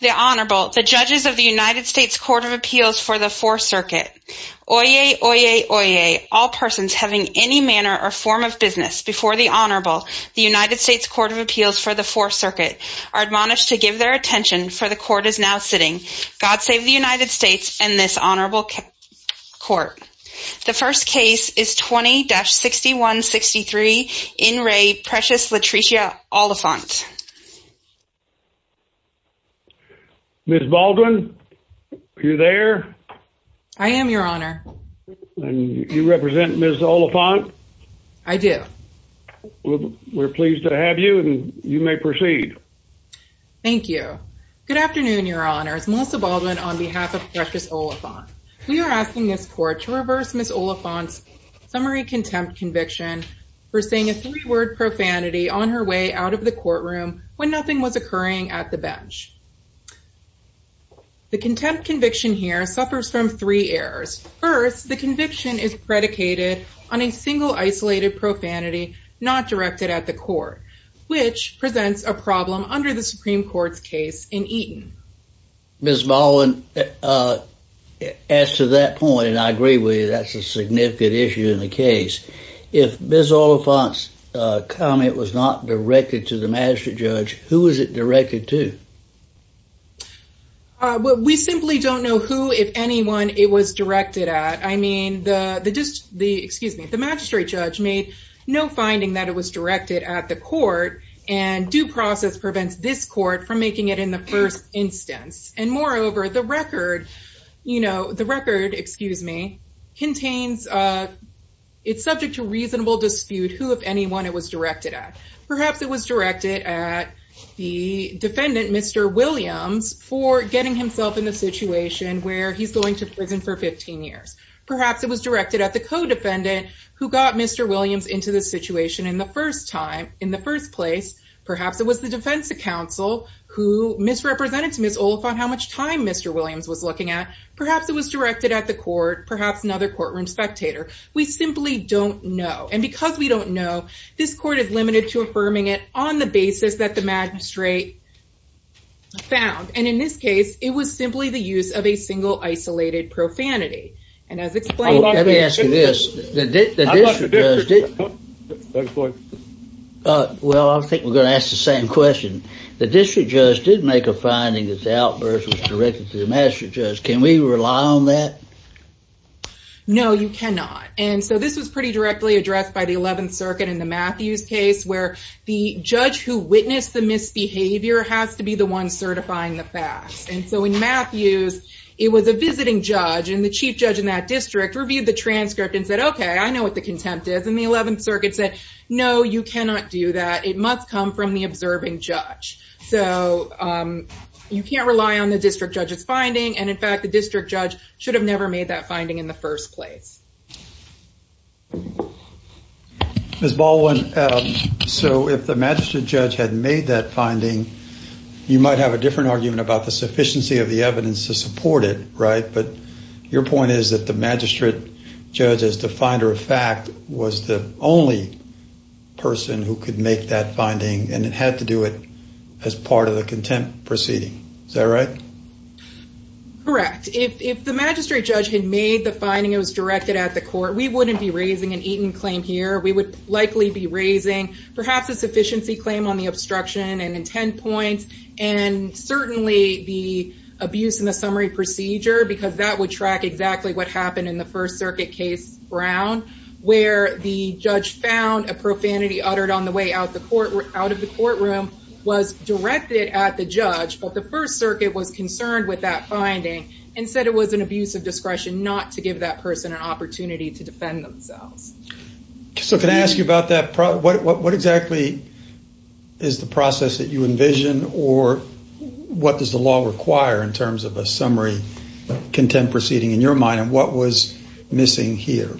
The Honorable, the Judges of the United States Court of Appeals for the Fourth Circuit. Oyez, oyez, oyez, all persons having any manner or form of business before the Honorable, the United States Court of Appeals for the Fourth Circuit, are admonished to give their attention, for the Court is now sitting. God save the United States and this Honorable Court. The first case is 20-6163, in re. Precious Latricia Oliphant. Ms. Baldwin, are you there? I am, Your Honor. You represent Ms. Oliphant? I do. Well, we're pleased to have you, and you may proceed. Thank you. Good afternoon, Your Honors. Melissa Baldwin on behalf of Precious Oliphant. We are asking this Court to reverse Ms. Oliphant's summary contempt conviction for saying a three-word profanity on her way out of the courtroom when nothing was occurring at the bench. The contempt conviction here suffers from three errors. First, the conviction is predicated on a single isolated profanity not directed at the Court, which presents a problem under the Supreme Court's case in Eaton. Ms. Baldwin, as to that point, and I agree with you, that's a significant issue in the case, if Ms. Oliphant's comment was not directed to the magistrate judge, who was it directed to? Well, we simply don't know who, if anyone, it was directed at. I mean, the magistrate judge made no finding that it was directed at the Court, and due to that instance. And moreover, the record, you know, the record, excuse me, contains, it's subject to reasonable dispute who, if anyone, it was directed at. Perhaps it was directed at the defendant, Mr. Williams, for getting himself in a situation where he's going to prison for 15 years. Perhaps it was directed at the co-defendant who got Mr. Williams into the situation in the first time, in the first place. Perhaps it was the defense counsel who misrepresented to Ms. Oliphant how much time Mr. Williams was looking at. Perhaps it was directed at the Court, perhaps another courtroom spectator. We simply don't know, and because we don't know, this Court is limited to affirming it on the basis that the magistrate found, and in this case, it was simply the use of a single isolated profanity. And as explained- Let me ask you this. I'd like to differ, Judge Baldwin. Well, I think we're going to ask the same question. The district judge did make a finding that the outburst was directed to the magistrate judge. Can we rely on that? No, you cannot. And so this was pretty directly addressed by the 11th Circuit in the Matthews case, where the judge who witnessed the misbehavior has to be the one certifying the facts. And so in Matthews, it was a visiting judge, and the chief judge in that district reviewed the transcript and said, okay, I know what the contempt is. And the 11th Circuit said, no, you cannot do that. It must come from the observing judge. So you can't rely on the district judge's finding, and in fact, the district judge should have never made that finding in the first place. Ms. Baldwin, so if the magistrate judge had made that finding, you might have a different argument about the sufficiency of the evidence to support it, right? But your point is that the magistrate judge, as the finder of fact, was the only person who could make that finding, and it had to do it as part of the contempt proceeding. Is that right? Correct. If the magistrate judge had made the finding, it was directed at the court, we wouldn't be raising an Eaton claim here. We would likely be raising perhaps a sufficiency claim on the obstruction and intent points, and certainly the abuse in the summary procedure, because that would track exactly what happened in the First Circuit case, Brown, where the judge found a profanity uttered on the way out of the courtroom was directed at the judge, but the First Circuit was concerned with that finding and said it was an abuse of discretion not to give that person an opportunity to defend themselves. So can I ask you about that? What exactly is the process that you envision, or what does the law require in terms of a summary contempt proceeding in your mind, and what was missing here?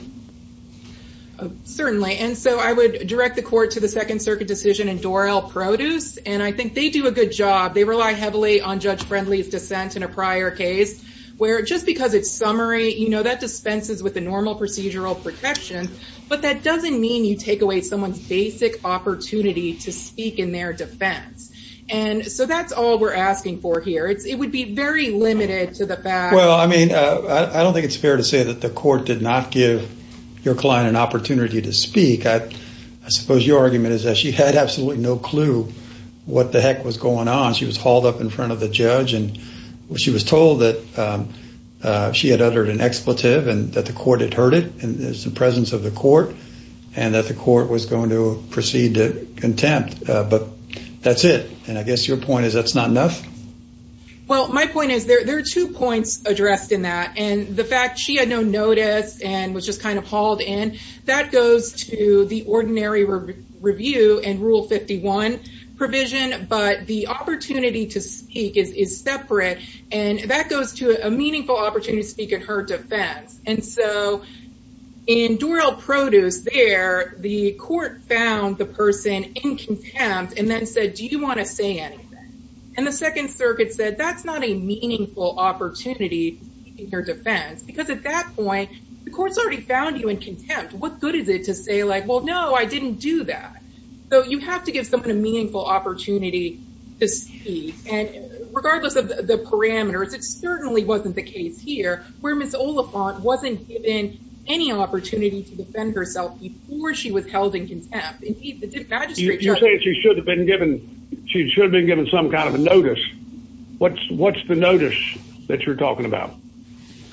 Certainly, and so I would direct the court to the Second Circuit decision in Doral Produce, and I think they do a good job. They rely heavily on Judge Friendly's dissent in a prior case, where just because it's summary, you know, that dispenses with the normal procedural protection, but that doesn't mean you take away someone's basic opportunity to speak in their defense, and so that's all we're asking for here. It would be very limited to the fact... Well, I mean, I don't think it's fair to say that the court did not give your client an opportunity to speak. I suppose your argument is that she had absolutely no clue what the heck was going on. She was hauled up in front of the judge, and she was told that she had uttered an expletive and that the court had heard it, and it's the presence of the court, and that the court was going to proceed to contempt, but that's it, and I guess your point is that's not enough? Well, my point is there are two points addressed in that, and the fact she had no notice and was just kind of hauled in, that goes to the ordinary review and Rule 51 provision, but the opportunity to speak is separate, and that goes to a meaningful opportunity to speak in her defense, and so in Doral Produce there, the court found the person in contempt and then said, do you want to say anything? And the Second Circuit said that's not a meaningful opportunity in her defense, because at that point, the court's already found you in contempt. What good is it to say like, well, no, I didn't do that, so you have to give someone a meaningful opportunity to speak, and regardless of the parameters, it certainly wasn't the case here where Ms. Oliphant wasn't given any opportunity to defend herself before she was held in contempt. Indeed, the magistrate judge- You're saying she should have been given some kind of a notice. What's the notice that you're talking about?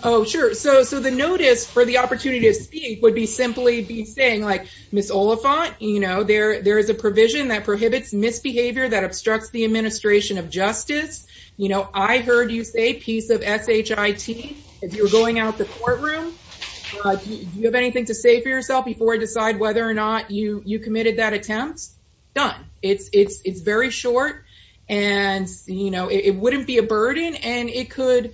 Oh, sure. So the notice for the opportunity to speak would simply be saying like, Ms. Oliphant, there is a provision that prohibits misbehavior that obstructs the administration of justice. I heard you say, piece of SHIT, if you're going out the courtroom, do you have anything to say for yourself before I decide whether or not you committed that attempt? Done. It's very short, and it wouldn't be a burden, and it could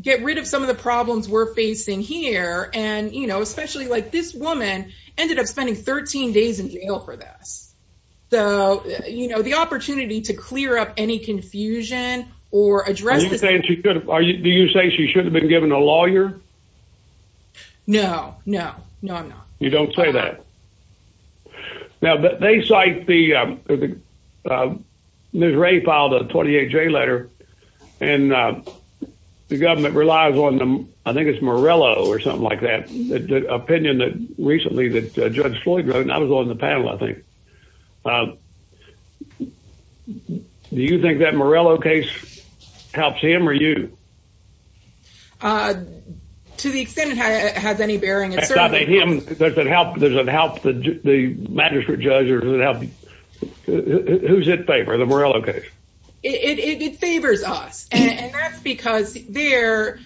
get rid of some of the problems we're facing here, and especially like this woman ended up spending 13 days in jail for this. So the opportunity to clear up any confusion or address this- Are you saying she should have been given a lawyer? No, no, no, I'm not. You don't say that. Now, they cite the- Ms. Ray filed a 28-J letter, and the government relies on the- I think it's Morello or something like that, the opinion that recently that Judge Floyd wrote, and that was on the panel, I think. Do you think that Morello case helps him, or you? To the extent it has any bearing, it certainly- Does it help the magistrate judge, or does it help- Who's in favor of the Morello case? It favors us, and that's because there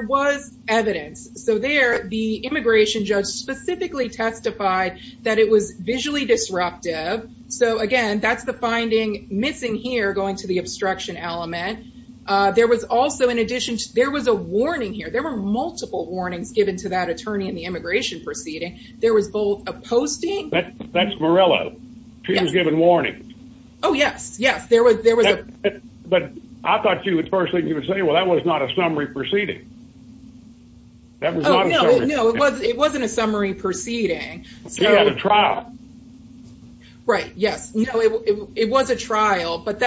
was evidence. So there, the immigration judge specifically testified that it was visually disruptive. So again, that's the finding missing here, going to the obstruction element. There was also, in addition, there was a warning here. There were multiple warnings given to that attorney in the immigration proceeding. There was both a posting- That's Morello. She was given warning. Oh, yes, yes. There was a- But I thought you would personally, you would say, well, that was not a summary proceeding. That was not a summary- Oh, no, no, it wasn't a summary proceeding. So- She had a trial. Right, yes. No, it was a trial, but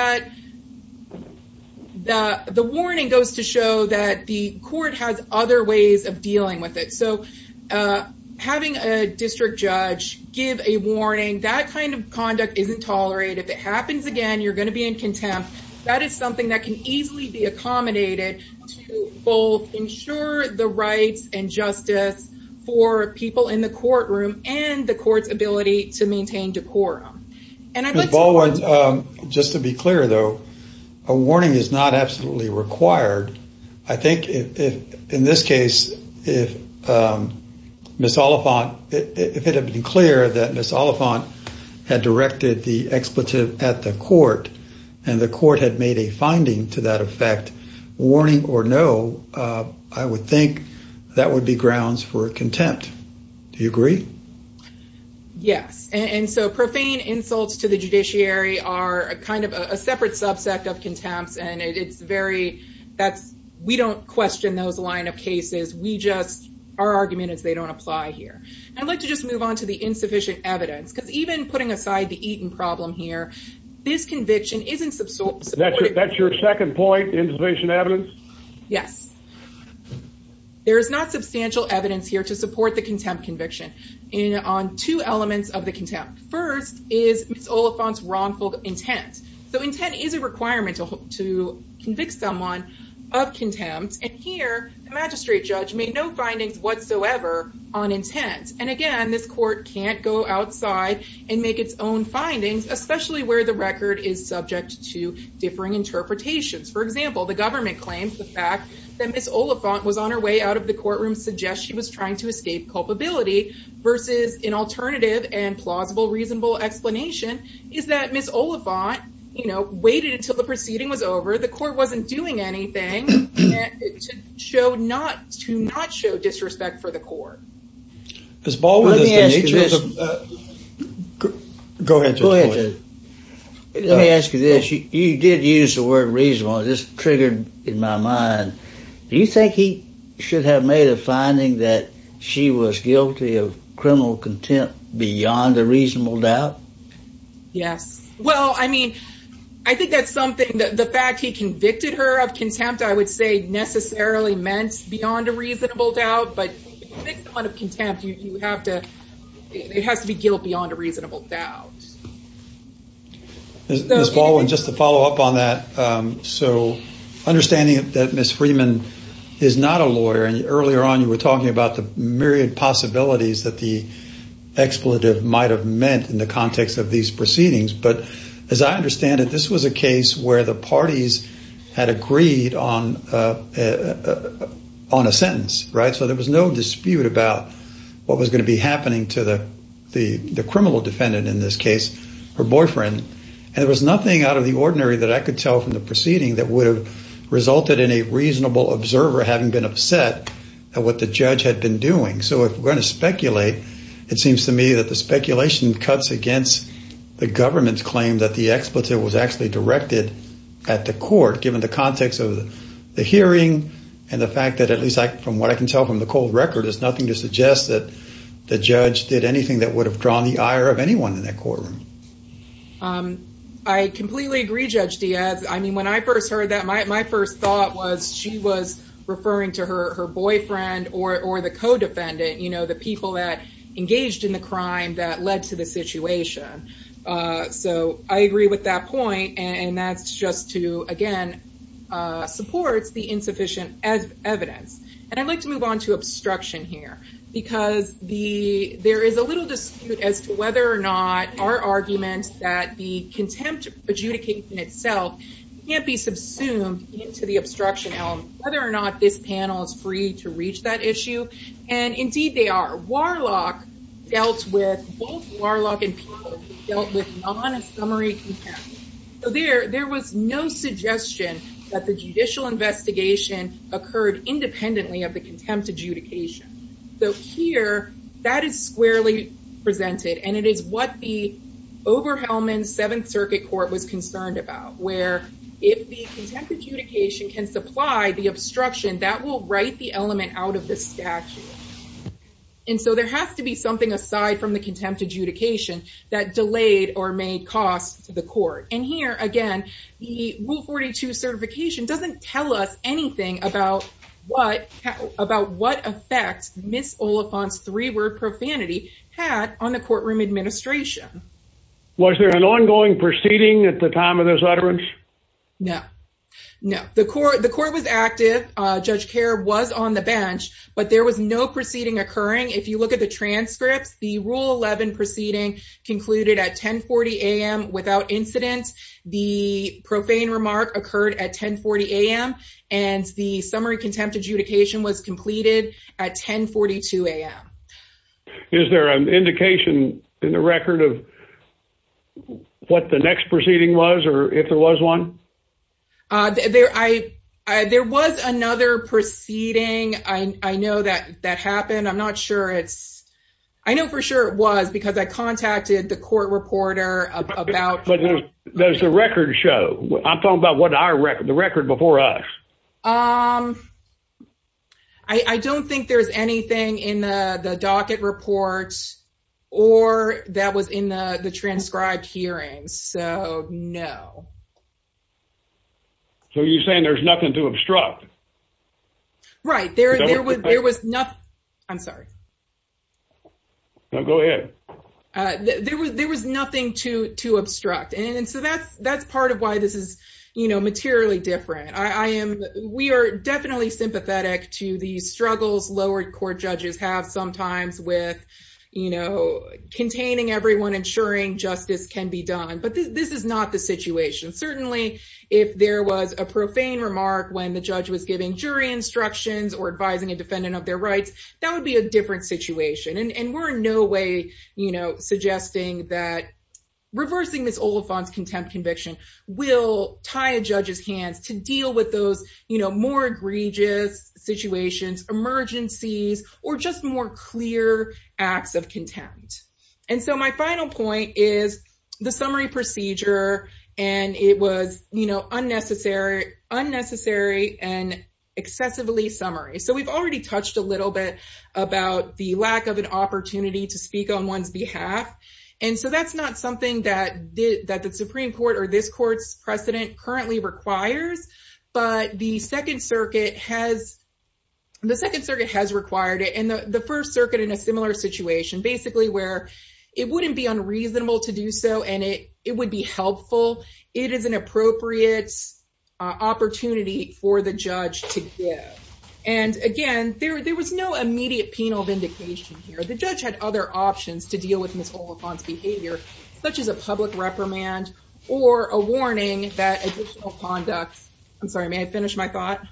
the warning goes to show that the court has other ways of dealing with it. So having a district judge give a warning, that kind of conduct isn't tolerated. If it happens again, you're going to be in contempt. That is something that can easily be accommodated to both ensure the rights and justice for people in the courtroom, and the court's ability to maintain decorum. Ms. Baldwin, just to be clear, though, a warning is not absolutely required. I think in this case, if Ms. Oliphant, if it had been clear that Ms. Oliphant had directed the expletive at the court, and the court had made a finding to that effect, warning or no, I would think that would be grounds for contempt. Do you agree? Yes. And so profane insults to the judiciary are kind of a separate subset of contempt. And it's very, that's, we don't question those line of cases, we just, our argument is they don't apply here. I'd like to just move on to the insufficient evidence, because even putting aside the Eaton problem here, this conviction isn't- That's your second point, insufficient evidence? Yes. There is not substantial evidence here to support the contempt conviction. On two elements of the contempt. First is Ms. Oliphant's wrongful intent. So intent is a requirement to convict someone of contempt, and here, the magistrate judge made no findings whatsoever on intent. And again, this court can't go outside and make its own findings, especially where the record is subject to differing interpretations. For example, the government claims the fact that Ms. Oliphant was on her way out of the versus an alternative and plausible, reasonable explanation is that Ms. Oliphant, you know, waited until the proceeding was over, the court wasn't doing anything, to not show disrespect for the court. Ms. Baldwin- Let me ask you this- Go ahead, Judge Boyd- Let me ask you this, you did use the word reasonable, it just triggered in my mind, do you think he should have made a finding that she was guilty of criminal contempt beyond a reasonable doubt? Yes. Well, I mean, I think that's something that the fact he convicted her of contempt, I would say necessarily meant beyond a reasonable doubt, but if you convict someone of contempt, you have to, it has to be guilt beyond a reasonable doubt. Judge Boyd- Ms. Baldwin, just to follow up on that, so understanding that Ms. Freeman is not a lawyer, and earlier on you were talking about the myriad possibilities that the expletive might have meant in the context of these proceedings, but as I understand it, this was a case where the parties had agreed on a sentence, right? So there was no dispute about what was going to be happening to the criminal defendant in this case, her boyfriend, and it was nothing out of the ordinary that I could tell from the proceeding that would have resulted in a reasonable observer having been upset at what the judge had been doing. So if we're going to speculate, it seems to me that the speculation cuts against the government's claim that the expletive was actually directed at the court, given the context of the hearing and the fact that, at least from what I can tell from the cold record, it's nothing to suggest that the judge did anything that would have drawn the ire of anyone in that courtroom. I completely agree, Judge Diaz. I mean, when I first heard that, my first thought was she was referring to her boyfriend or the co-defendant, you know, the people that engaged in the crime that led to the situation. So I agree with that point, and that's just to, again, support the insufficient evidence. And I'd like to move on to obstruction here, because there is a little dispute as to whether or not our argument that the contempt adjudication itself can't be subsumed into the obstruction element, whether or not this panel is free to reach that issue. And indeed, they are. Warlock dealt with, both Warlock and Peebles dealt with non-summary contempt, so there was no suggestion that the judicial investigation occurred independently of the contempt adjudication. So here, that is squarely presented, and it is what the Oberhelman Seventh Circuit Court was concerned about, where if the contempt adjudication can supply the obstruction, that will write the element out of the statute. And so there has to be something aside from the contempt adjudication that delayed or made cost to the court. And here, again, the Rule 42 certification doesn't tell us anything about what effect Ms. Oliphant's three-word profanity had on the courtroom administration. Was there an ongoing proceeding at the time of this utterance? No. No. The court was active. Judge Kerr was on the bench, but there was no proceeding occurring. If you look at the transcripts, the Rule 11 proceeding concluded at 10.40 a.m. without incident. The profane remark occurred at 10.40 a.m., and the summary contempt adjudication was completed at 10.42 a.m. Is there an indication in the record of what the next proceeding was, or if there was one? There was another proceeding. I know that that happened. I'm not sure it's – I know for sure it was, because I contacted the court reporter about – But does the record show – I'm talking about the record before us. I don't think there's anything in the docket report or that was in the transcribed hearings, so no. So are you saying there's nothing to obstruct? Right. There was nothing – I'm sorry. Go ahead. There was nothing to obstruct, and so that's part of why this is materially different. We are definitely sympathetic to the struggles lower court judges have sometimes with containing everyone, ensuring justice can be done, but this is not the situation. Certainly, if there was a profane remark when the judge was giving jury instructions or advising a defendant of their rights, that would be a different situation, and we're in no way suggesting that reversing Ms. Oliphant's contempt conviction will tie a judge's hands to deal with those more egregious situations, emergencies, or just more clear acts of contempt. And so my final point is the summary procedure, and it was unnecessary and excessively summary. So we've already touched a little bit about the lack of an opportunity to speak on one's behalf, and so that's not something that the Supreme Court or this court's precedent currently requires, but the Second Circuit has required it, and the First Circuit in a similar situation, basically where it wouldn't be unreasonable to do so and it would be helpful. It is an appropriate opportunity for the judge to give, and again, there was no immediate penal vindication here. The judge had other options to deal with Ms. Oliphant's behavior, such as a public reprimand or a warning that additional conduct... I'm sorry, may I finish my thought?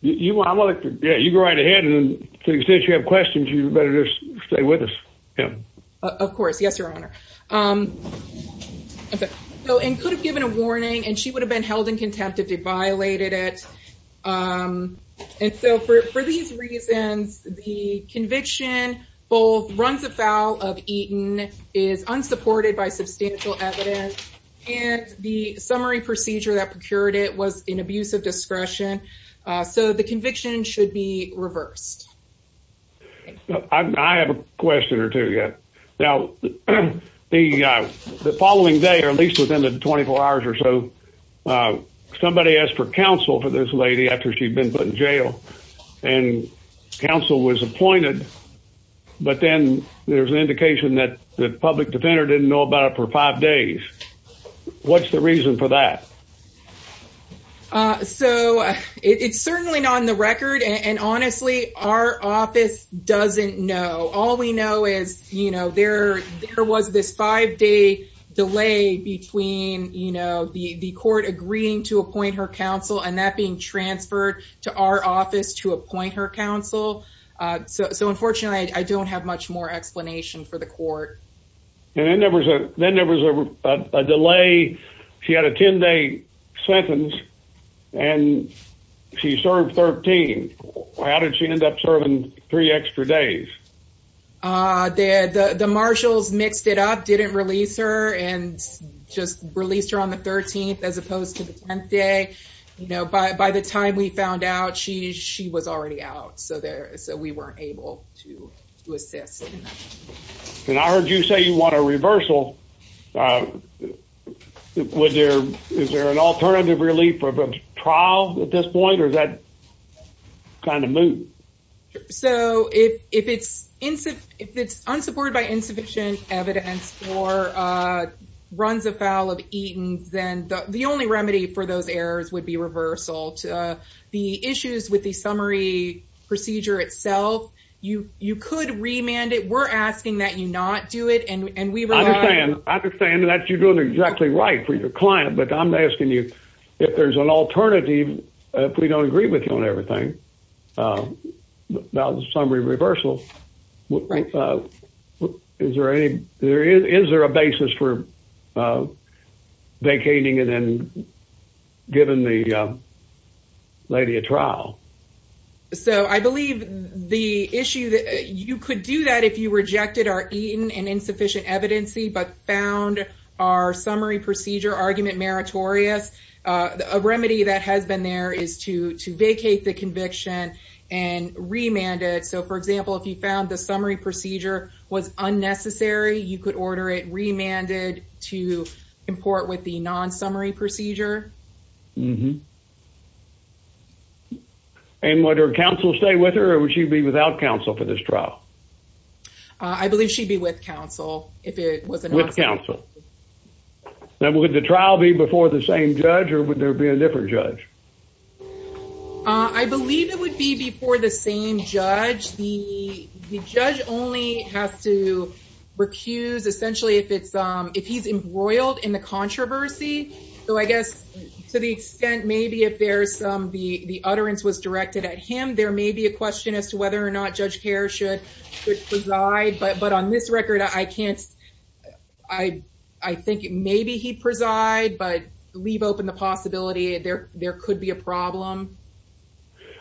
You go right ahead, and to the extent you have questions, you better just stay with us. Of course, yes, Your Honor. Okay. So, and could have given a warning, and she would have been held in contempt if they violated it. And so for these reasons, the conviction both runs afoul of Eaton, is unsupported by substantial evidence, and the summary procedure that procured it was an abuse of discretion, so the conviction should be reversed. I have a question or two, yes. Now, the following day, or at least within the 24 hours or so, somebody asked for counsel for this lady after she'd been put in jail, and counsel was appointed, but then there's an indication that the public defender didn't know about it for five days. What's the reason for that? So it's certainly not on the record, and honestly, our office doesn't know. All we know is there was this five-day delay between the court agreeing to appoint her counsel and that being transferred to our office to appoint her counsel. So unfortunately, I don't have much more explanation for the court. And then there was a delay. She had a 10-day sentence, and she served 13. How did she end up serving three extra days? The marshals mixed it up, didn't release her, and just released her on the 13th as opposed to the 10th day. By the time we found out, she was already out, so we weren't able to assist. And I heard you say you want a reversal. Is there an alternative relief for a trial at this point, or is that kind of moot? So if it's unsupported by insufficient evidence or runs afoul of Eaton, then the only remedy for those errors would be reversal. The issues with the summary procedure itself, you could remand it. We're asking that you not do it, and we rely on you. I understand that you're doing exactly right for your client, but I'm asking you, if there's an alternative, if we don't agree with you on everything about the summary reversal, is there a basis for vacating and then giving the lady a trial? So I believe the issue that you could do that if you rejected our Eaton and insufficient evidence, but found our summary procedure argument meritorious, a remedy that has been there is to vacate the conviction and remand it. For example, if you found the summary procedure was unnecessary, you could order it remanded to import with the non-summary procedure. And would her counsel stay with her, or would she be without counsel for this trial? I believe she'd be with counsel if it was a non-summary. With counsel. Now, would the trial be before the same judge, or would there be a different judge? I believe it would be before the same judge. The judge only has to recuse, essentially, if he's embroiled in the controversy. So I guess to the extent maybe if the utterance was directed at him, there may be a question as to whether or not Judge Kerr should preside. But on this record, I think maybe he'd preside, but leave open the possibility. There could be a problem.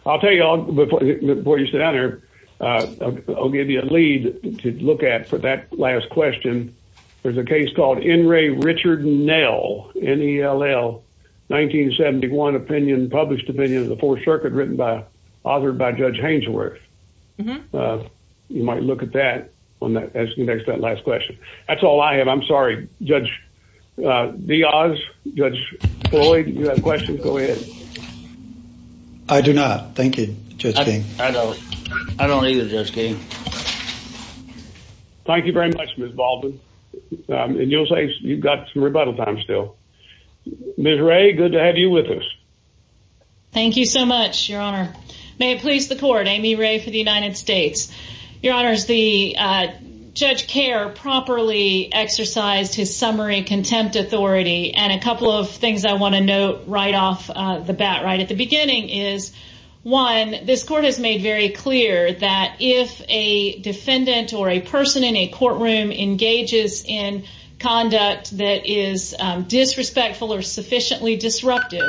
I'll tell you, before you sit down here, I'll give you a lead to look at for that last question. There's a case called N. Ray Richard Nell, N-E-L-L, 1971, opinion, published opinion of the Fourth Circuit, written by, authored by Judge Hangeworth. You might look at that on that last question. That's all I have. I'm sorry. Judge Diaz, Judge Floyd, you have questions? Go ahead. I do not. Thank you, Judge King. I don't. I don't either, Judge King. Thank you very much, Ms. Baldwin. And you'll say you've got some rebuttal time still. Ms. Ray, good to have you with us. Thank you so much, Your Honor. May it please the court, Amy Ray for the United States. Your Honor, Judge Kerr properly exercised his summary contempt authority. And a couple of things I want to note right off the bat right at the beginning is, one, this court has made very clear that if a defendant or a person in a courtroom engages in conduct that is disrespectful or sufficiently disruptive,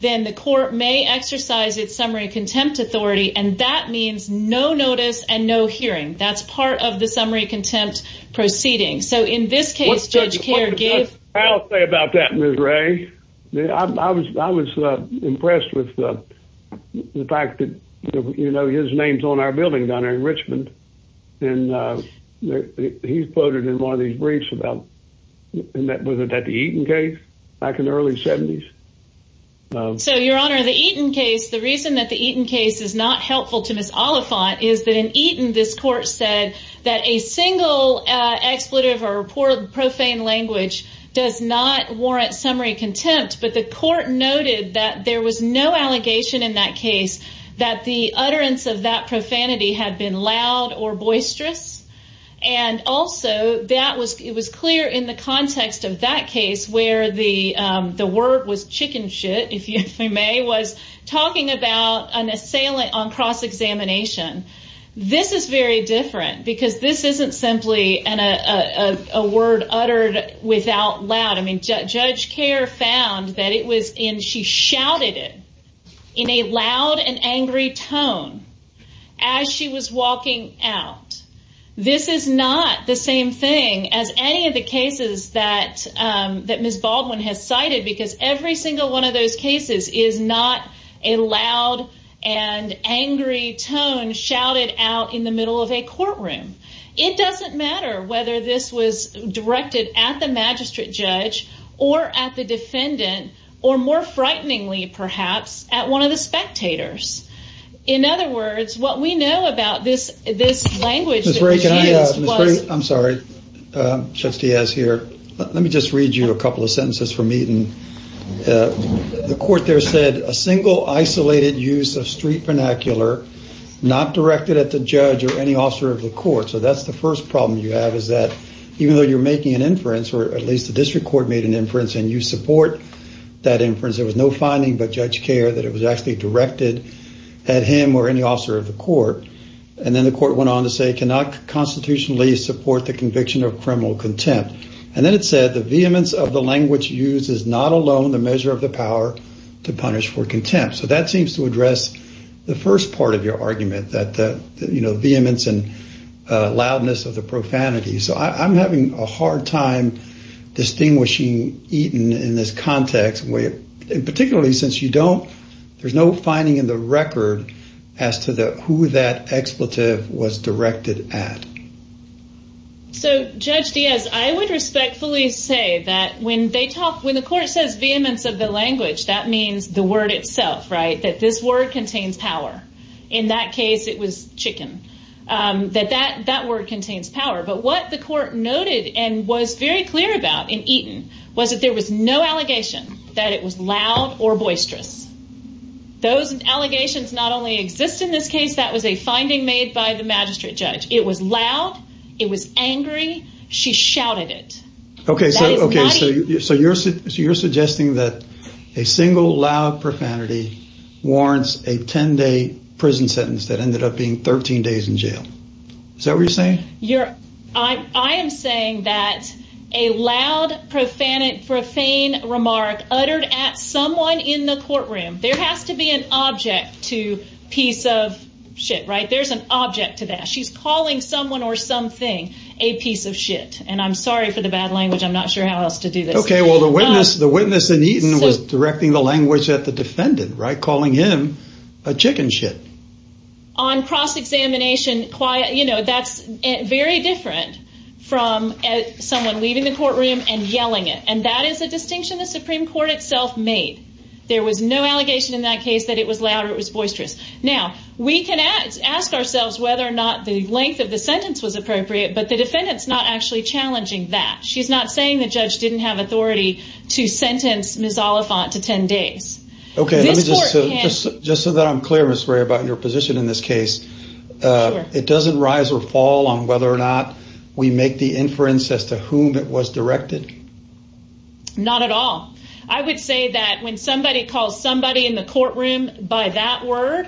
then the court may exercise its summary contempt authority. And that means no notice and no hearing. That's part of the summary contempt proceeding. So in this case, Judge Kerr gave- I'll say about that, Ms. Ray. I was impressed with the fact that, you know, his name's on our building down here in Richmond. And he's quoted in one of these briefs about, was it the Eaton case back in the early 70s? So, Your Honor, the Eaton case, the reason that the Eaton case is not helpful to Ms. Oliphant is that in Eaton, this court said that a single expletive or profane language does not warrant summary contempt. But the court noted that there was no allegation in that case that the utterance of that profanity had been loud or boisterous. And also, it was clear in the context of that case where the word was chicken shit, if you may, was talking about an assailant on cross-examination. This is very different because this isn't simply a word uttered without loud. I mean, Judge Kerr found that it was in- she shouted it in a loud and angry tone as she was walking out. This is not the same thing as any of the cases that Ms. Baldwin has cited because every single one of those cases is not a loud and angry tone shouted out in the middle of a courtroom. It doesn't matter whether this was directed at the magistrate judge or at the defendant or more frighteningly, perhaps, at one of the spectators. In other words, what we know about this language- Ms. Ray, I'm sorry. Judge Diaz here. Let me just read you a couple of sentences from Eaton. The court there said a single isolated use of street vernacular not directed at the judge or any officer of the court. So that's the first problem you have is that even though you're making an inference, or at least the district court made an inference and you support that inference, there was no finding by Judge Kerr that it was actually directed at him or any officer of the court. And then the court went on to say, cannot constitutionally support the conviction of criminal contempt. And then it said, the vehemence of the language used is not alone the measure of the power to punish for contempt. So that seems to address the first part of your argument that, you know, vehemence and loudness of the profanity. So I'm having a hard time distinguishing Eaton in this context, particularly since there's no finding in the record as to who that expletive was directed at. So Judge Diaz, I would respectfully say that when the court says vehemence of the language, that means the word itself, right? That this word contains power. In that case, it was chicken. That that word contains power. But what the court noted and was very clear about in Eaton was that there was no allegation that it was loud or boisterous. Those allegations not only exist in this case, that was a finding made by the magistrate judge. It was loud. It was angry. She shouted it. Okay. So you're suggesting that a single loud profanity warrants a 10 day prison sentence that ended up being 13 days in jail. Is that what you're saying? You're I am saying that a loud, profane remark uttered at someone in the courtroom, there has to be an object to piece of shit, right? There's an object to that. She's calling someone or something a piece of shit. And I'm sorry for the bad language. I'm not sure how else to do this. Okay. Well, the witness, the witness in Eaton was directing the language at the defendant, right? Calling him a chicken shit. On cross-examination, quiet, you know, that's very different from someone leaving the courtroom and yelling it. And that is a distinction the Supreme Court itself made. There was no allegation in that case that it was loud or it was boisterous. Now, we can ask ourselves whether or not the length of the sentence was appropriate, but the defendant's not actually challenging that. She's not saying the judge didn't have authority to sentence Ms. Oliphant to 10 days. Okay. Just so that I'm clear, Ms. Ray, about your position in this case, it doesn't rise or fall on whether or not we make the inference as to whom it was directed? Not at all. I would say that when somebody calls somebody in the courtroom by that word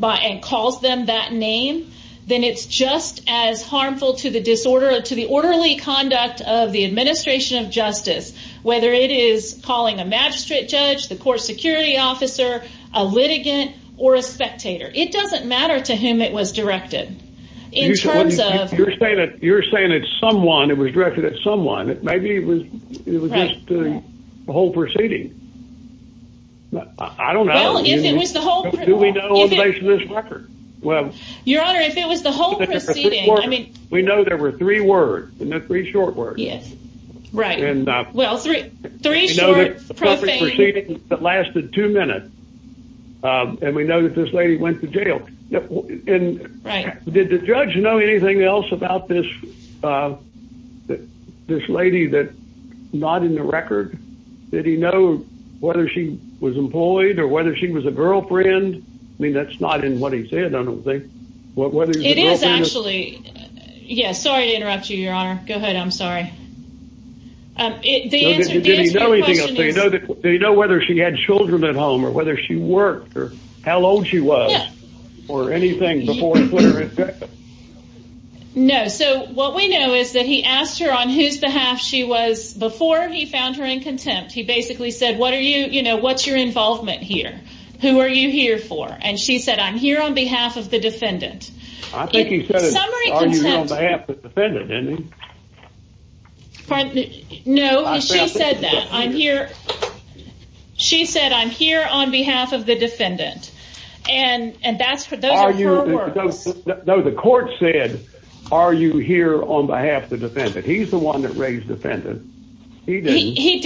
and calls them that name, then it's just as harmful to the disorder, to the orderly conduct of the officer, a litigant, or a spectator. It doesn't matter to whom it was directed. You're saying that someone, it was directed at someone. Maybe it was just the whole proceeding. I don't know. Well, if it was the whole... Do we know on the basis of this record? Well... Your Honor, if it was the whole proceeding, I mean... We know there were three words, three short words. Yes, right. Well, three short, profane... We know that the whole proceeding lasted two minutes, and we know that this lady went to jail. Did the judge know anything else about this lady that's not in the record? Did he know whether she was employed or whether she was a girlfriend? I mean, that's not in what he said, I don't think. It is actually... Yes, sorry to interrupt you, Your Honor. Go ahead. I'm sorry. The answer to the question is... Did he know whether she had children at home or whether she worked or how old she was or anything before he put her in prison? No, so what we know is that he asked her on whose behalf she was before he found her in contempt. He basically said, what are you, you know, what's your involvement here? Who are you here for? And she said, I'm here on behalf of the defendant. I think he said it on behalf of the defendant, didn't he? Pardon me? No, she said that. I'm here. She said, I'm here on behalf of the defendant. And those are her words. No, the court said, are you here on behalf of the defendant? He's the one that raised the defendant. He did. He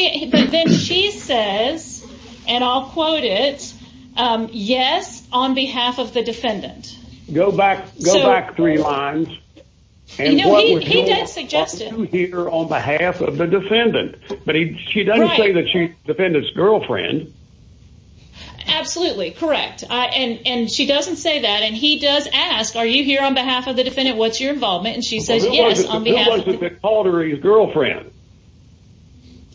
did. But then she says, and I'll quote it, yes, on behalf of the defendant. Go back three lines. You know, he did suggest it on behalf of the defendant. But she doesn't say that she's defendant's girlfriend. Absolutely correct. And she doesn't say that. And he does ask, are you here on behalf of the defendant? What's your involvement? And she says, yes, on behalf of the defendant. Who was it that called her his girlfriend?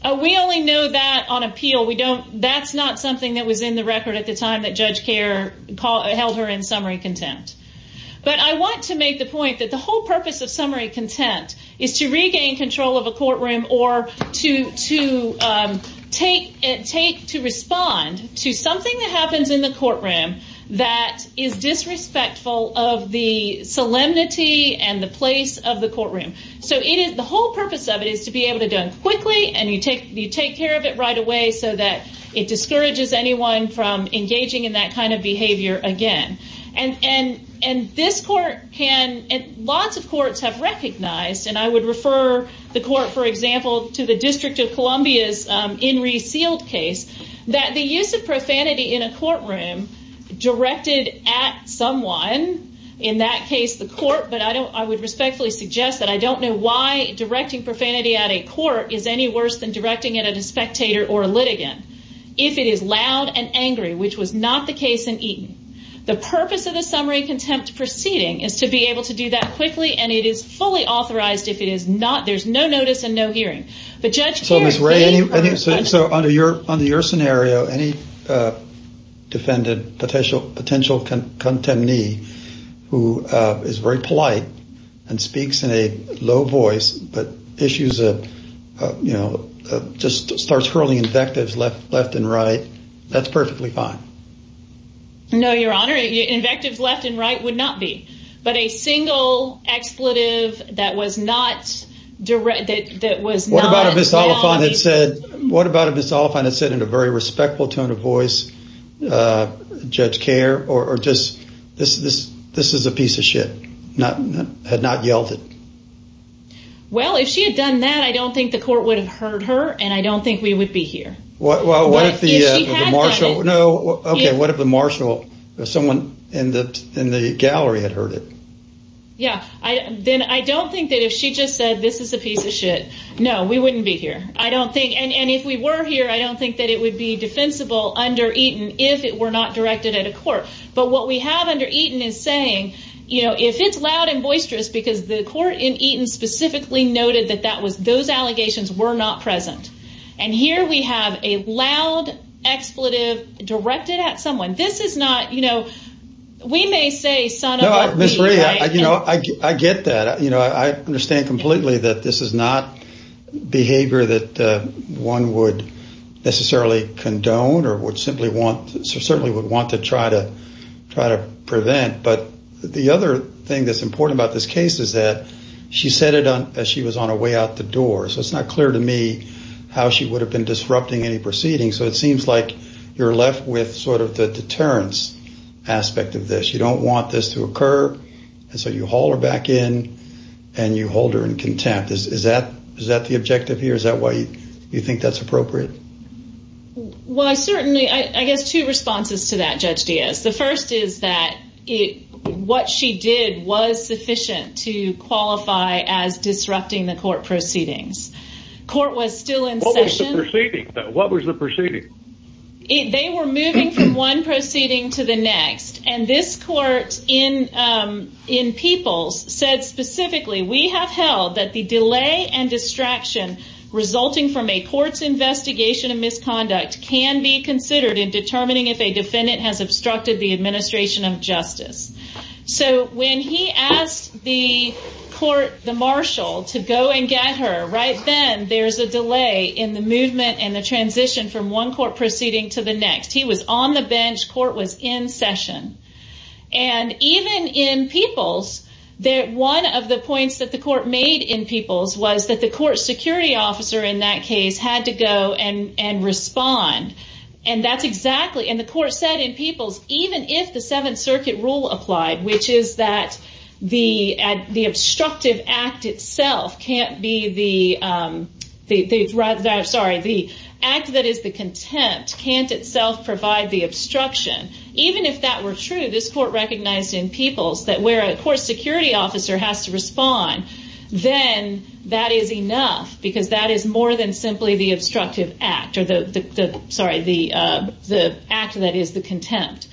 We only know that on appeal. We don't. That's not something that was in the record at the time that Judge Kerr held her in summary contempt. But I want to make the point that the whole purpose of summary contempt is to regain control of a courtroom or to respond to something that happens in the courtroom that is disrespectful of the solemnity and the place of the courtroom. So the whole purpose of it is to be able to do it quickly. And you take care of it right away so that it discourages anyone from engaging in that kind of behavior again. And lots of courts have recognized, and I would refer the court, for example, to the District of Columbia's In Re Sealed case, that the use of profanity in a courtroom directed at someone, in that case, the court. But I would respectfully suggest that I don't know why directing profanity at a court is any worse than directing it at a spectator or a litigant if it is loud and angry, which was not the case in Eaton. The purpose of the summary contempt proceeding is to be able to do that quickly. And it is fully authorized if it is not. There's no notice and no hearing. But Judge Kerr- So Ms. Ray, under your scenario, any defendant, potential contemnee, who is very polite and speaks in a low voice, but issues a, you know, just starts hurling invectives left and right, that's perfectly fine. No, Your Honor, invectives left and right would not be. But a single expletive that was not directed, that was not- What about if Ms. Oliphant had said, what about if Ms. Oliphant had said in a very respectful tone of voice, Judge Kerr, or just, this is a piece of shit, had not yelled it? Well, if she had done that, I don't think the court would have heard her, and I don't think we would be here. Well, what if the- If she had done it- No, okay, what if the marshal, someone in the gallery had heard it? Yeah, then I don't think that if she just said, this is a piece of shit, no, we wouldn't be here. I don't think, and if we were here, I don't think that it would be defensible under Eaton if it were not directed at a court. But what we have under Eaton is saying, you know, if it's loud and boisterous, because the court in Eaton specifically noted that that was, those allegations were not present. And here we have a loud expletive directed at someone. This is not, you know, we may say, son of a- Ms. Rhea, you know, I get that. You know, I understand completely that this is not behavior that one would necessarily condone or would simply want, certainly would want to try to prevent. But the other thing that's important about this case is that she said it as she was on her way out the door. So it's not clear to me how she would have been disrupting any proceedings. So it seems like you're left with sort of the deterrence aspect of this. You don't want this to occur. And so you haul her back in and you hold her in contempt. Is that the objective here? Is that why you think that's appropriate? Well, I certainly, I guess two responses to that, Judge Diaz. The first is that what she did was sufficient to qualify as disrupting the court proceedings. Court was still in session. What was the proceeding? They were moving from one proceeding to the next. And this court in Peoples said specifically, we have held that the delay and distraction resulting from a court's investigation of misconduct can be considered in determining if a defendant has obstructed the administration of justice. So when he asked the court, the marshal to go and get her right then, there's a delay in the movement and the transition from one court proceeding to the next. He was on the bench. Court was in session. And even in Peoples, one of the points that the court made in Peoples was that the court security officer in that case had to go and respond. And that's exactly, and the court said in Peoples, even if the Seventh Circuit rule applied, which is that the obstructive act itself can't be the, the act that is the contempt can't itself provide the obstruction. Even if that were true, this court recognized in Peoples that where a court security officer has to respond, then that is enough because that is more than simply the obstructive act or the, the, the, sorry, the, the act of that is the contempt.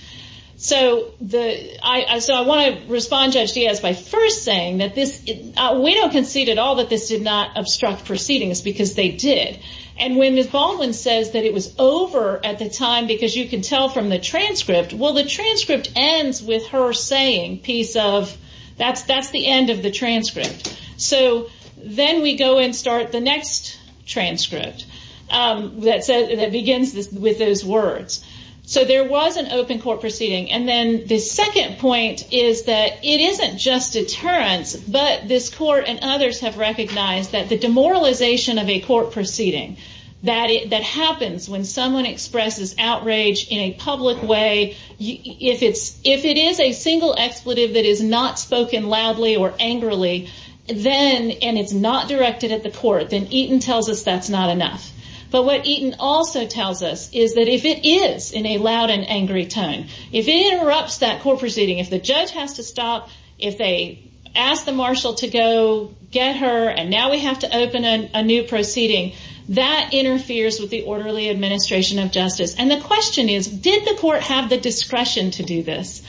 So the, I, so I want to respond Judge Diaz by first saying that this, we don't concede at all that this did not obstruct proceedings because they did. And when Ms. Baldwin says that it was over at the time, because you can tell from the transcript, well, the transcript ends with her saying piece of that's, that's the end of the transcript. So then we go and start the next transcript that said, that begins with those words. So there was an open court proceeding. And then the second point is that it isn't just deterrence, but this court and others have recognized that the demoralization of a court proceeding, that it, that happens when someone expresses outrage in a public way, if it's, if it is a single expletive that is not spoken loudly or angrily, then, and it's not directed at the court, then Eaton tells us that's not enough. But what Eaton also tells us is that if it is in a loud and angry tone, if it interrupts that court proceeding, if the judge has to stop, if they ask the marshal to go get her and now we have to open a new proceeding that interferes with the orderly administration of justice. And the question is, did the court have the discretion to do this?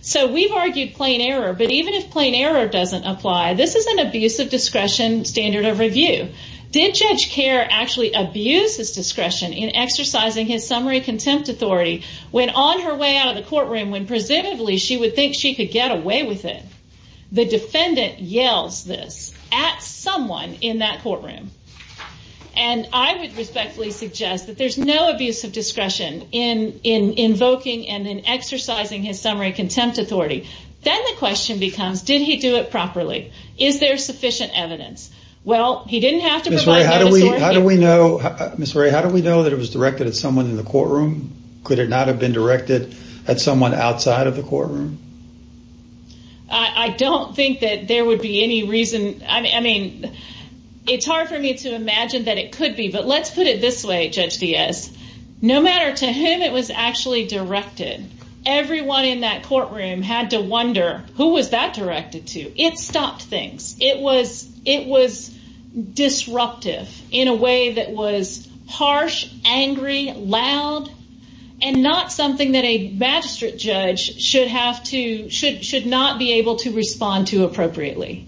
So we've argued plain error, but even if plain error doesn't apply, this is an abuse of discretion standard of review. Did Judge Kerr actually abuse his discretion in exercising his summary contempt authority when on her way out of the courtroom, when presumably she would think she could get away with it? The defendant yells this at someone in that courtroom. And I would respectfully suggest that there's no abuse of discretion in, in invoking and exercising his summary contempt authority. Then the question becomes, did he do it properly? Is there sufficient evidence? Well, he didn't have to. How do we, how do we know? I'm sorry. How do we know that it was directed at someone in the courtroom? Could it not have been directed at someone outside of the courtroom? I don't think that there would be any reason. I mean, it's hard for me to imagine that it could be, but let's put it this way. Judge Diaz, no matter to him, it was actually directed. Everyone in that courtroom had to wonder who was that directed to? It stopped things. It was, it was disruptive in a way that was harsh, angry, loud, and not something that a magistrate judge should have to, should, should not be able to respond to appropriately.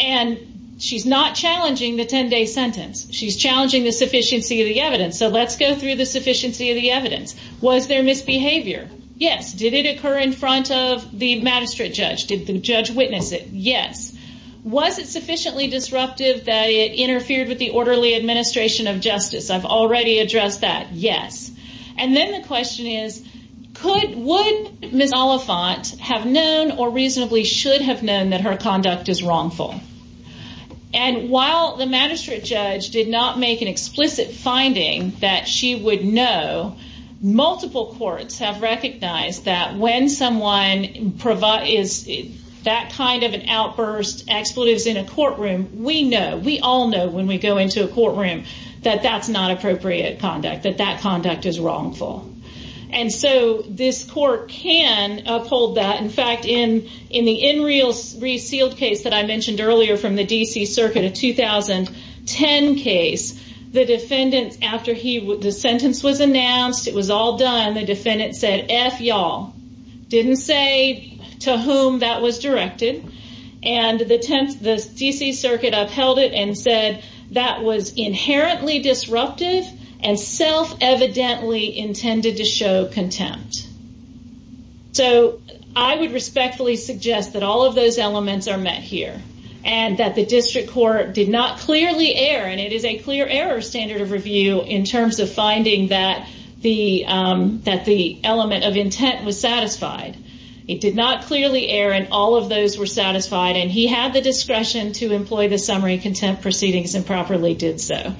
And she's not challenging the 10 day sentence. She's challenging the sufficiency of the evidence. So let's go through the sufficiency of the evidence. Was there misbehavior? Yes. Did it occur in front of the magistrate judge? Did the judge witness it? Yes. Was it sufficiently disruptive that it interfered with the orderly administration of justice? I've already addressed that. Yes. And then the question is, could, would Ms. Oliphant have known or reasonably should have known that her conduct is wrongful? And while the magistrate judge did not make an explicit finding that she would know, multiple courts have recognized that when someone provide is that kind of an outburst expletives in a courtroom, we know, we all know when we go into a courtroom, that that's not appropriate conduct, that that conduct is wrongful. And so this court can uphold that. In fact, in, in the in real resealed case that I mentioned earlier from the DC circuit of 2010 case, the defendants, after he, the sentence was announced, it was all done. The defendant said, F y'all didn't say to whom that was directed. And the 10th, the DC circuit upheld it and said that was inherently disruptive and self evidently intended to show contempt. So I would respectfully suggest that all of those elements are met here and that the district court did not clearly err. And it is a clear error standard of review in terms of finding that the, um, that the element of intent was satisfied. It did not clearly err. And all of those were satisfied and he had the discretion to employ the summary contempt proceedings and properly did so.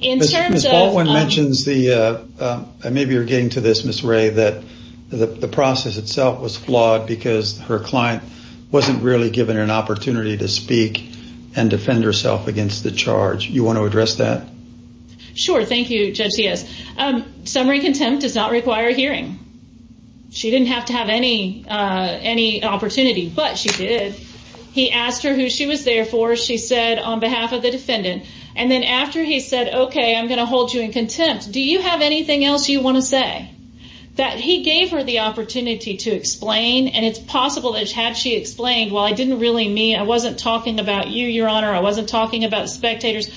In terms of. Ms. Baldwin mentions the, uh, uh, maybe you're getting to this Ms. The process itself was flawed because her client wasn't really given an opportunity to speak and defend herself against the charge. You want to address that? Sure. Thank you, Judge Diaz. Um, summary contempt does not require hearing. She didn't have to have any, uh, any opportunity, but she did. He asked her who she was there for. She said on behalf of the defendant. And then after he said, okay, I'm going to hold you in contempt. Do you have anything else you want to say? That he gave her the opportunity to explain. And it's possible that she had, she explained, well, I didn't really mean I wasn't talking about you, your honor. I wasn't talking about spectators.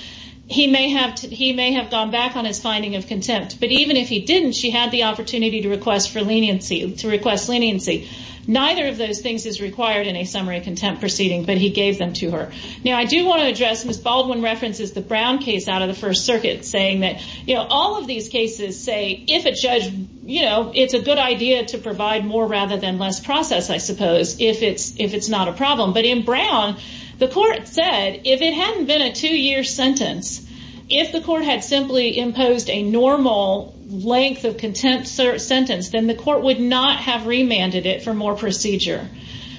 He may have, he may have gone back on his finding of contempt, but even if he didn't, she had the opportunity to request for leniency to request leniency. Neither of those things is required in a summary contempt proceeding, but he gave them to her. Now I do want to address Ms. Baldwin references, the Brown case out of the first circuit saying you know, all of these cases say, if a judge, you know, it's a good idea to provide more rather than less process, I suppose, if it's, if it's not a problem, but in Brown, the court said, if it hadn't been a two year sentence, if the court had simply imposed a normal length of contempt sentence, then the court would not have remanded it for more procedure.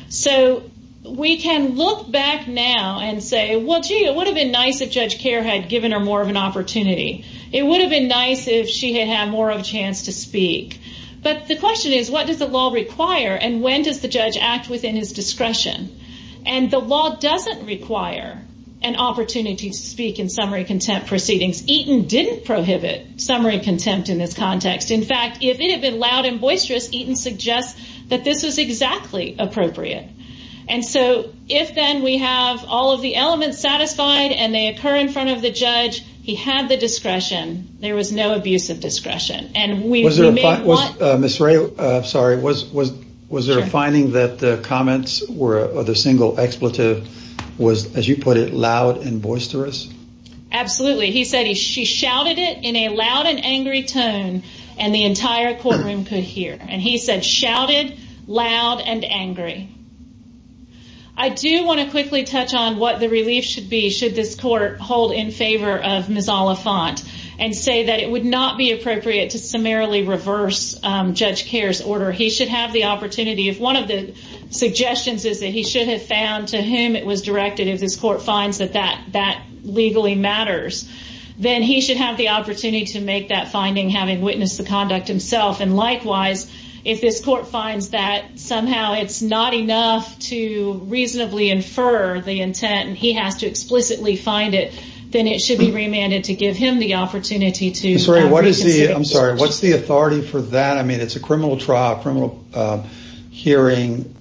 So we can look back now and say, well, gee, it would have been nice if judge care had given her more of an opportunity. It would have been nice if she had had more of a chance to speak. But the question is, what does the law require? And when does the judge act within his discretion? And the law doesn't require an opportunity to speak in summary contempt proceedings. Eaton didn't prohibit summary contempt in this context. In fact, if it had been loud and boisterous, Eaton suggests that this was exactly appropriate. And so if then we have all of the elements satisfied and they occur in front of the judge, he had the discretion. There was no abuse of discretion. And was there a finding that the comments or the single expletive was, as you put it, loud and boisterous? Absolutely. He said he, she shouted it in a loud and angry tone and the entire courtroom could hear. And he said, shouted loud and angry. I do want to quickly touch on what the relief should be. Of Ms. Oliphant and say that it would not be appropriate to summarily reverse Judge Kerr's order. He should have the opportunity if one of the suggestions is that he should have found to whom it was directed. If this court finds that that that legally matters, then he should have the opportunity to make that finding having witnessed the conduct himself. And likewise, if this court finds that somehow it's not enough to reasonably infer the intent and he has to explicitly find it, then it should be remanded to give him the opportunity to reconsider. I'm sorry. What's the authority for that? I mean, it's a criminal trial, criminal hearing.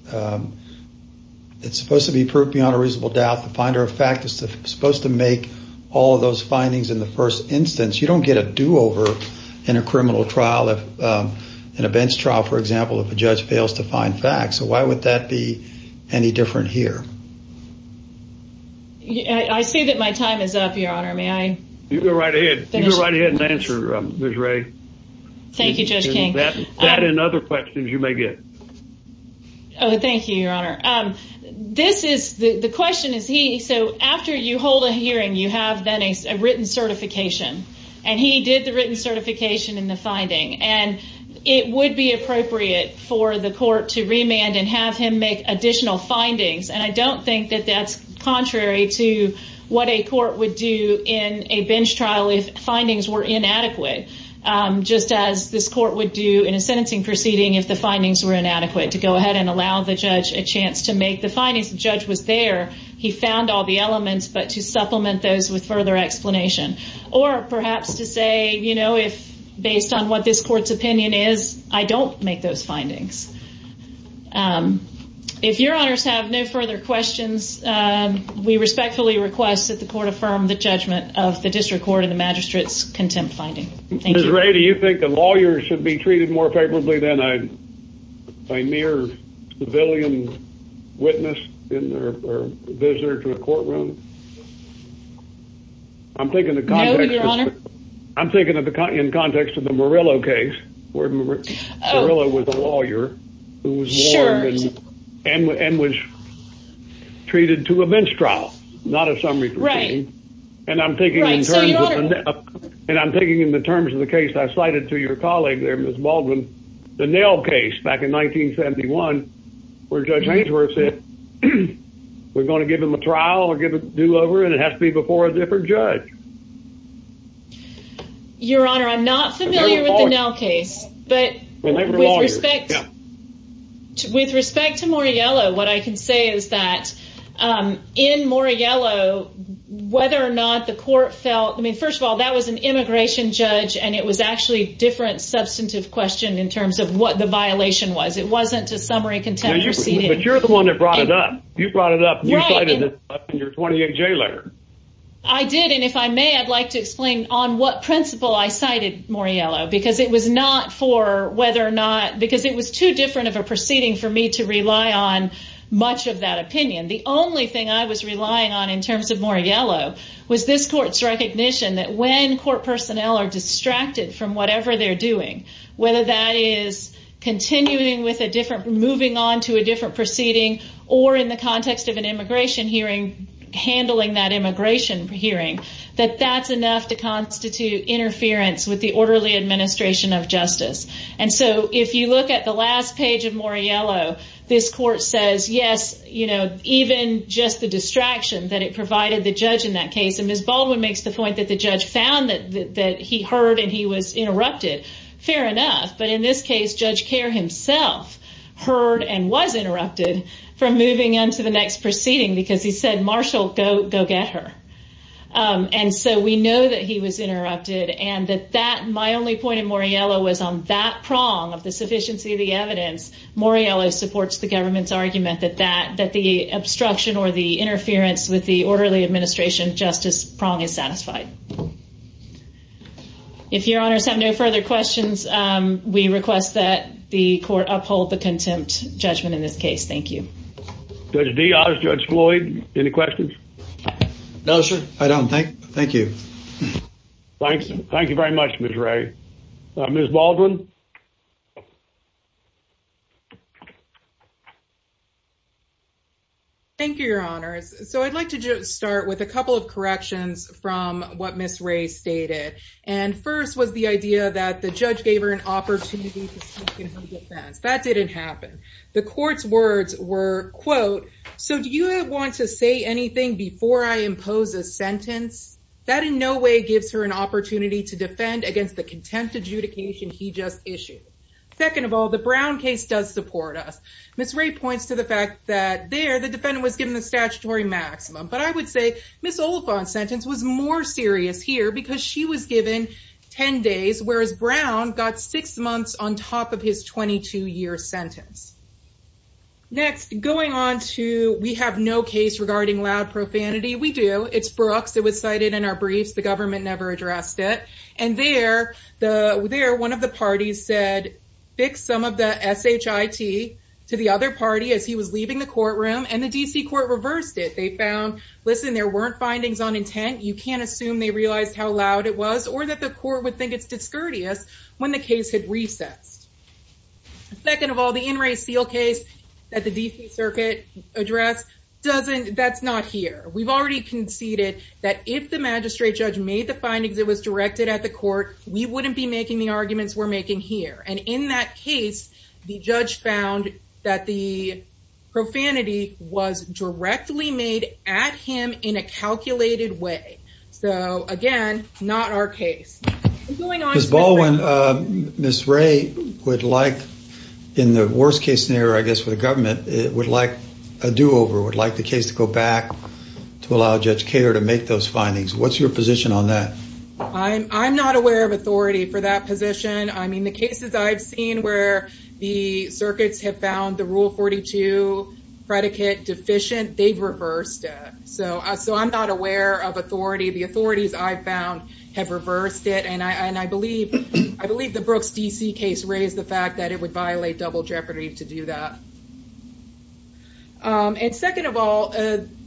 It's supposed to be proved beyond a reasonable doubt. The finder of fact is supposed to make all of those findings in the first instance. You don't get a do-over in a criminal trial, in a bench trial, for example, if a judge fails to find facts. So why would that be any different here? I see that my time is up, Your Honor. May I? You go right ahead. You go right ahead and answer, Ms. Ray. Thank you, Judge King. That and other questions you may get. Oh, thank you, Your Honor. This is the question is he so after you hold a hearing, you have then a written certification and he did the written certification in the finding and it would be appropriate for the court to remand and have him make additional findings. And I don't think that that's contrary to what a court would do in a bench trial if findings were inadequate, just as this court would do in a sentencing proceeding if the findings were inadequate to go ahead and allow the judge a chance to make the findings. The judge was there. He found all the elements, but to supplement those with further explanation or perhaps to say, you know, if based on what this court's opinion is, I don't make those findings. If Your Honor's have no further questions, we respectfully request that the court affirm the judgment of the district court and the magistrate's contempt finding. Ms. Ray, do you think the lawyer should be treated more favorably than a mere civilian witness in their visitor to a courtroom? I'm thinking of the context of the Murillo case where Murillo was a lawyer. Sure. And was treated to a bench trial, not a summary proceeding. And I'm thinking in terms of the case I cited to your colleague there, Ms. Baldwin, the Nell case back in 1971, where Judge Hainsworth said we're going to give him a trial or give a do-over and it has to be before a different judge. Your Honor, I'm not familiar with the Nell case, but with respect. With respect to Murillo, what I can say is that in Murillo, whether or not the court felt, I mean, first of all, that was an immigration judge and it was actually a different substantive question in terms of what the violation was. It wasn't a summary contempt proceeding. But you're the one that brought it up. You brought it up. You cited it in your 28-J letter. I did. And if I may, I'd like to explain on what principle I cited Murillo because it was not for whether or not, because it was too different of a proceeding for me to rely on much of that opinion. The only thing I was relying on in terms of Murillo was this court's recognition that when court personnel are distracted from whatever they're doing, whether that is continuing with a different, moving on to a different proceeding or in the context of an immigration hearing, handling that immigration hearing, that that's enough to And so if you look at the last page of Murillo, this court says, yes, you know, even just the distraction that it provided the judge in that case. And Ms. Baldwin makes the point that the judge found that he heard and he was interrupted. Fair enough. But in this case, Judge Kerr himself heard and was interrupted from moving on to the next proceeding because he said, Marshall, go, go get her. And so we know that he was interrupted and that that my only point in Murillo was on that prong of the sufficiency of the evidence. Murillo supports the government's argument that that that the obstruction or the interference with the orderly administration justice prong is satisfied. If your honors have no further questions, we request that the court uphold the contempt judgment in this case. Thank you. Judge Diaz, Judge Floyd. Any questions? No, sir. I don't think. Thank you. Thanks. Thank you very much, Mr. Ray. Ms. Baldwin. Thank you, your honors. So I'd like to just start with a couple of corrections from what Ms. Ray stated. And first was the idea that the judge gave her an opportunity to speak in her defense. That didn't happen. The court's words were, quote, so do you want to say anything before I impose a sentence that in no way gives her an opportunity to defend against the contempt adjudication he just issued? Second of all, the Brown case does support us. Ms. Ray points to the fact that there the defendant was given the statutory maximum. But I would say Ms. Oliphant sentence was more serious here because she was given 10 sentence. Next, going on to we have no case regarding loud profanity. We do. It's Brooks. It was cited in our briefs. The government never addressed it. And there, one of the parties said, fix some of the SHIT to the other party as he was leaving the courtroom. And the D.C. court reversed it. They found, listen, there weren't findings on intent. You can't assume they realized how loud it was or that the court would think it's discourteous when the case had recessed. Second of all, the In Re Seal case at the D.C. circuit address doesn't. That's not here. We've already conceded that if the magistrate judge made the findings, it was directed at the court. We wouldn't be making the arguments we're making here. And in that case, the judge found that the profanity was directly made at him in a calculated way. So again, not our case. Ms. Baldwin, Ms. Ray would like, in the worst case scenario, I guess, for the government, it would like a do-over, would like the case to go back to allow Judge Kato to make those findings. What's your position on that? I'm not aware of authority for that position. I mean, the cases I've seen where the circuits have found the Rule 42 predicate deficient, they've reversed it. So I'm not aware of authority. The authorities I've found have reversed it. And I believe the Brooks D.C. case raised the fact that it would violate double jeopardy to do that. And second of all,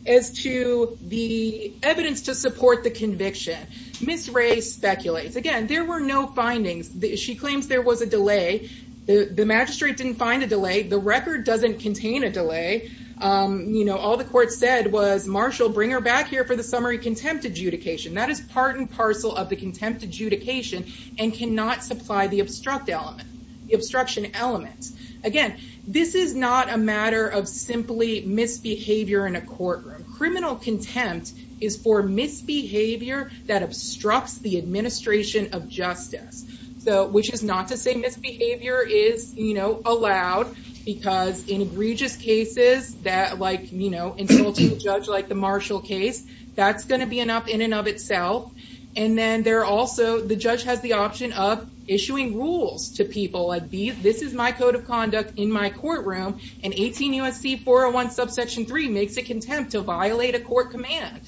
as to the evidence to support the conviction, Ms. Ray speculates. Again, there were no findings. She claims there was a delay. The magistrate didn't find a delay. The record doesn't contain a delay. You know, all the court said was, Marshall, bring her back here for the summary contempt adjudication. That is part and parcel of the contempt adjudication and cannot supply the obstruction element. Again, this is not a matter of simply misbehavior in a courtroom. Criminal contempt is for misbehavior that obstructs the administration of justice, which is not to say misbehavior is allowed, because in egregious cases that, like, you know, insulting a judge like the Marshall case, that's going to be an up in and of itself. And then there are also, the judge has the option of issuing rules to people, like, this is my code of conduct in my courtroom. And 18 U.S.C. 401 subsection 3 makes a contempt to violate a court command.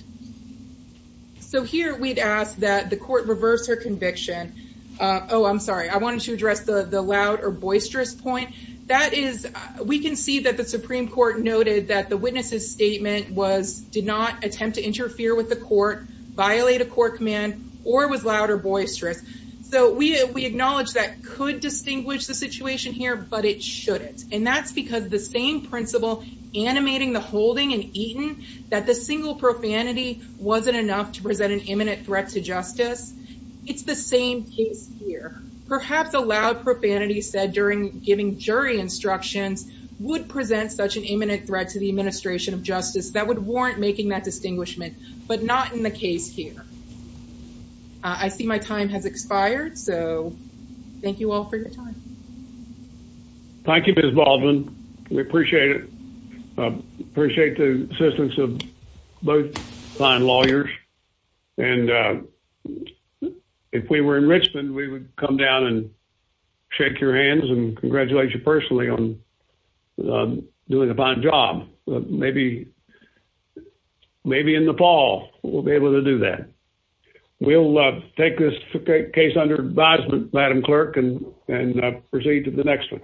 So here we'd ask that the court reverse her conviction. Oh, I'm sorry. I wanted to address the loud or boisterous point. That is, we can see that the Supreme Court noted that the witness's statement was, did not attempt to interfere with the court, violate a court command, or was loud or boisterous. So we acknowledge that could distinguish the situation here, but it shouldn't. And that's because the same principle animating the holding in Eaton, that the single profanity wasn't enough to present an imminent threat to justice, it's the same case here. Perhaps a loud profanity said during giving jury instructions would present such an imminent threat to the administration of justice that would warrant making that distinguishment, but not in the case here. I see my time has expired. So thank you all for your time. Thank you, Ms. Baldwin. We appreciate it. I appreciate the assistance of both fine lawyers. And if we were in Richmond, we would come down and shake your hands and congratulate you personally on doing a fine job. Maybe in Nepal, we'll be able to do that. We'll take this case under advisement, Madam Clerk, and proceed to the next one.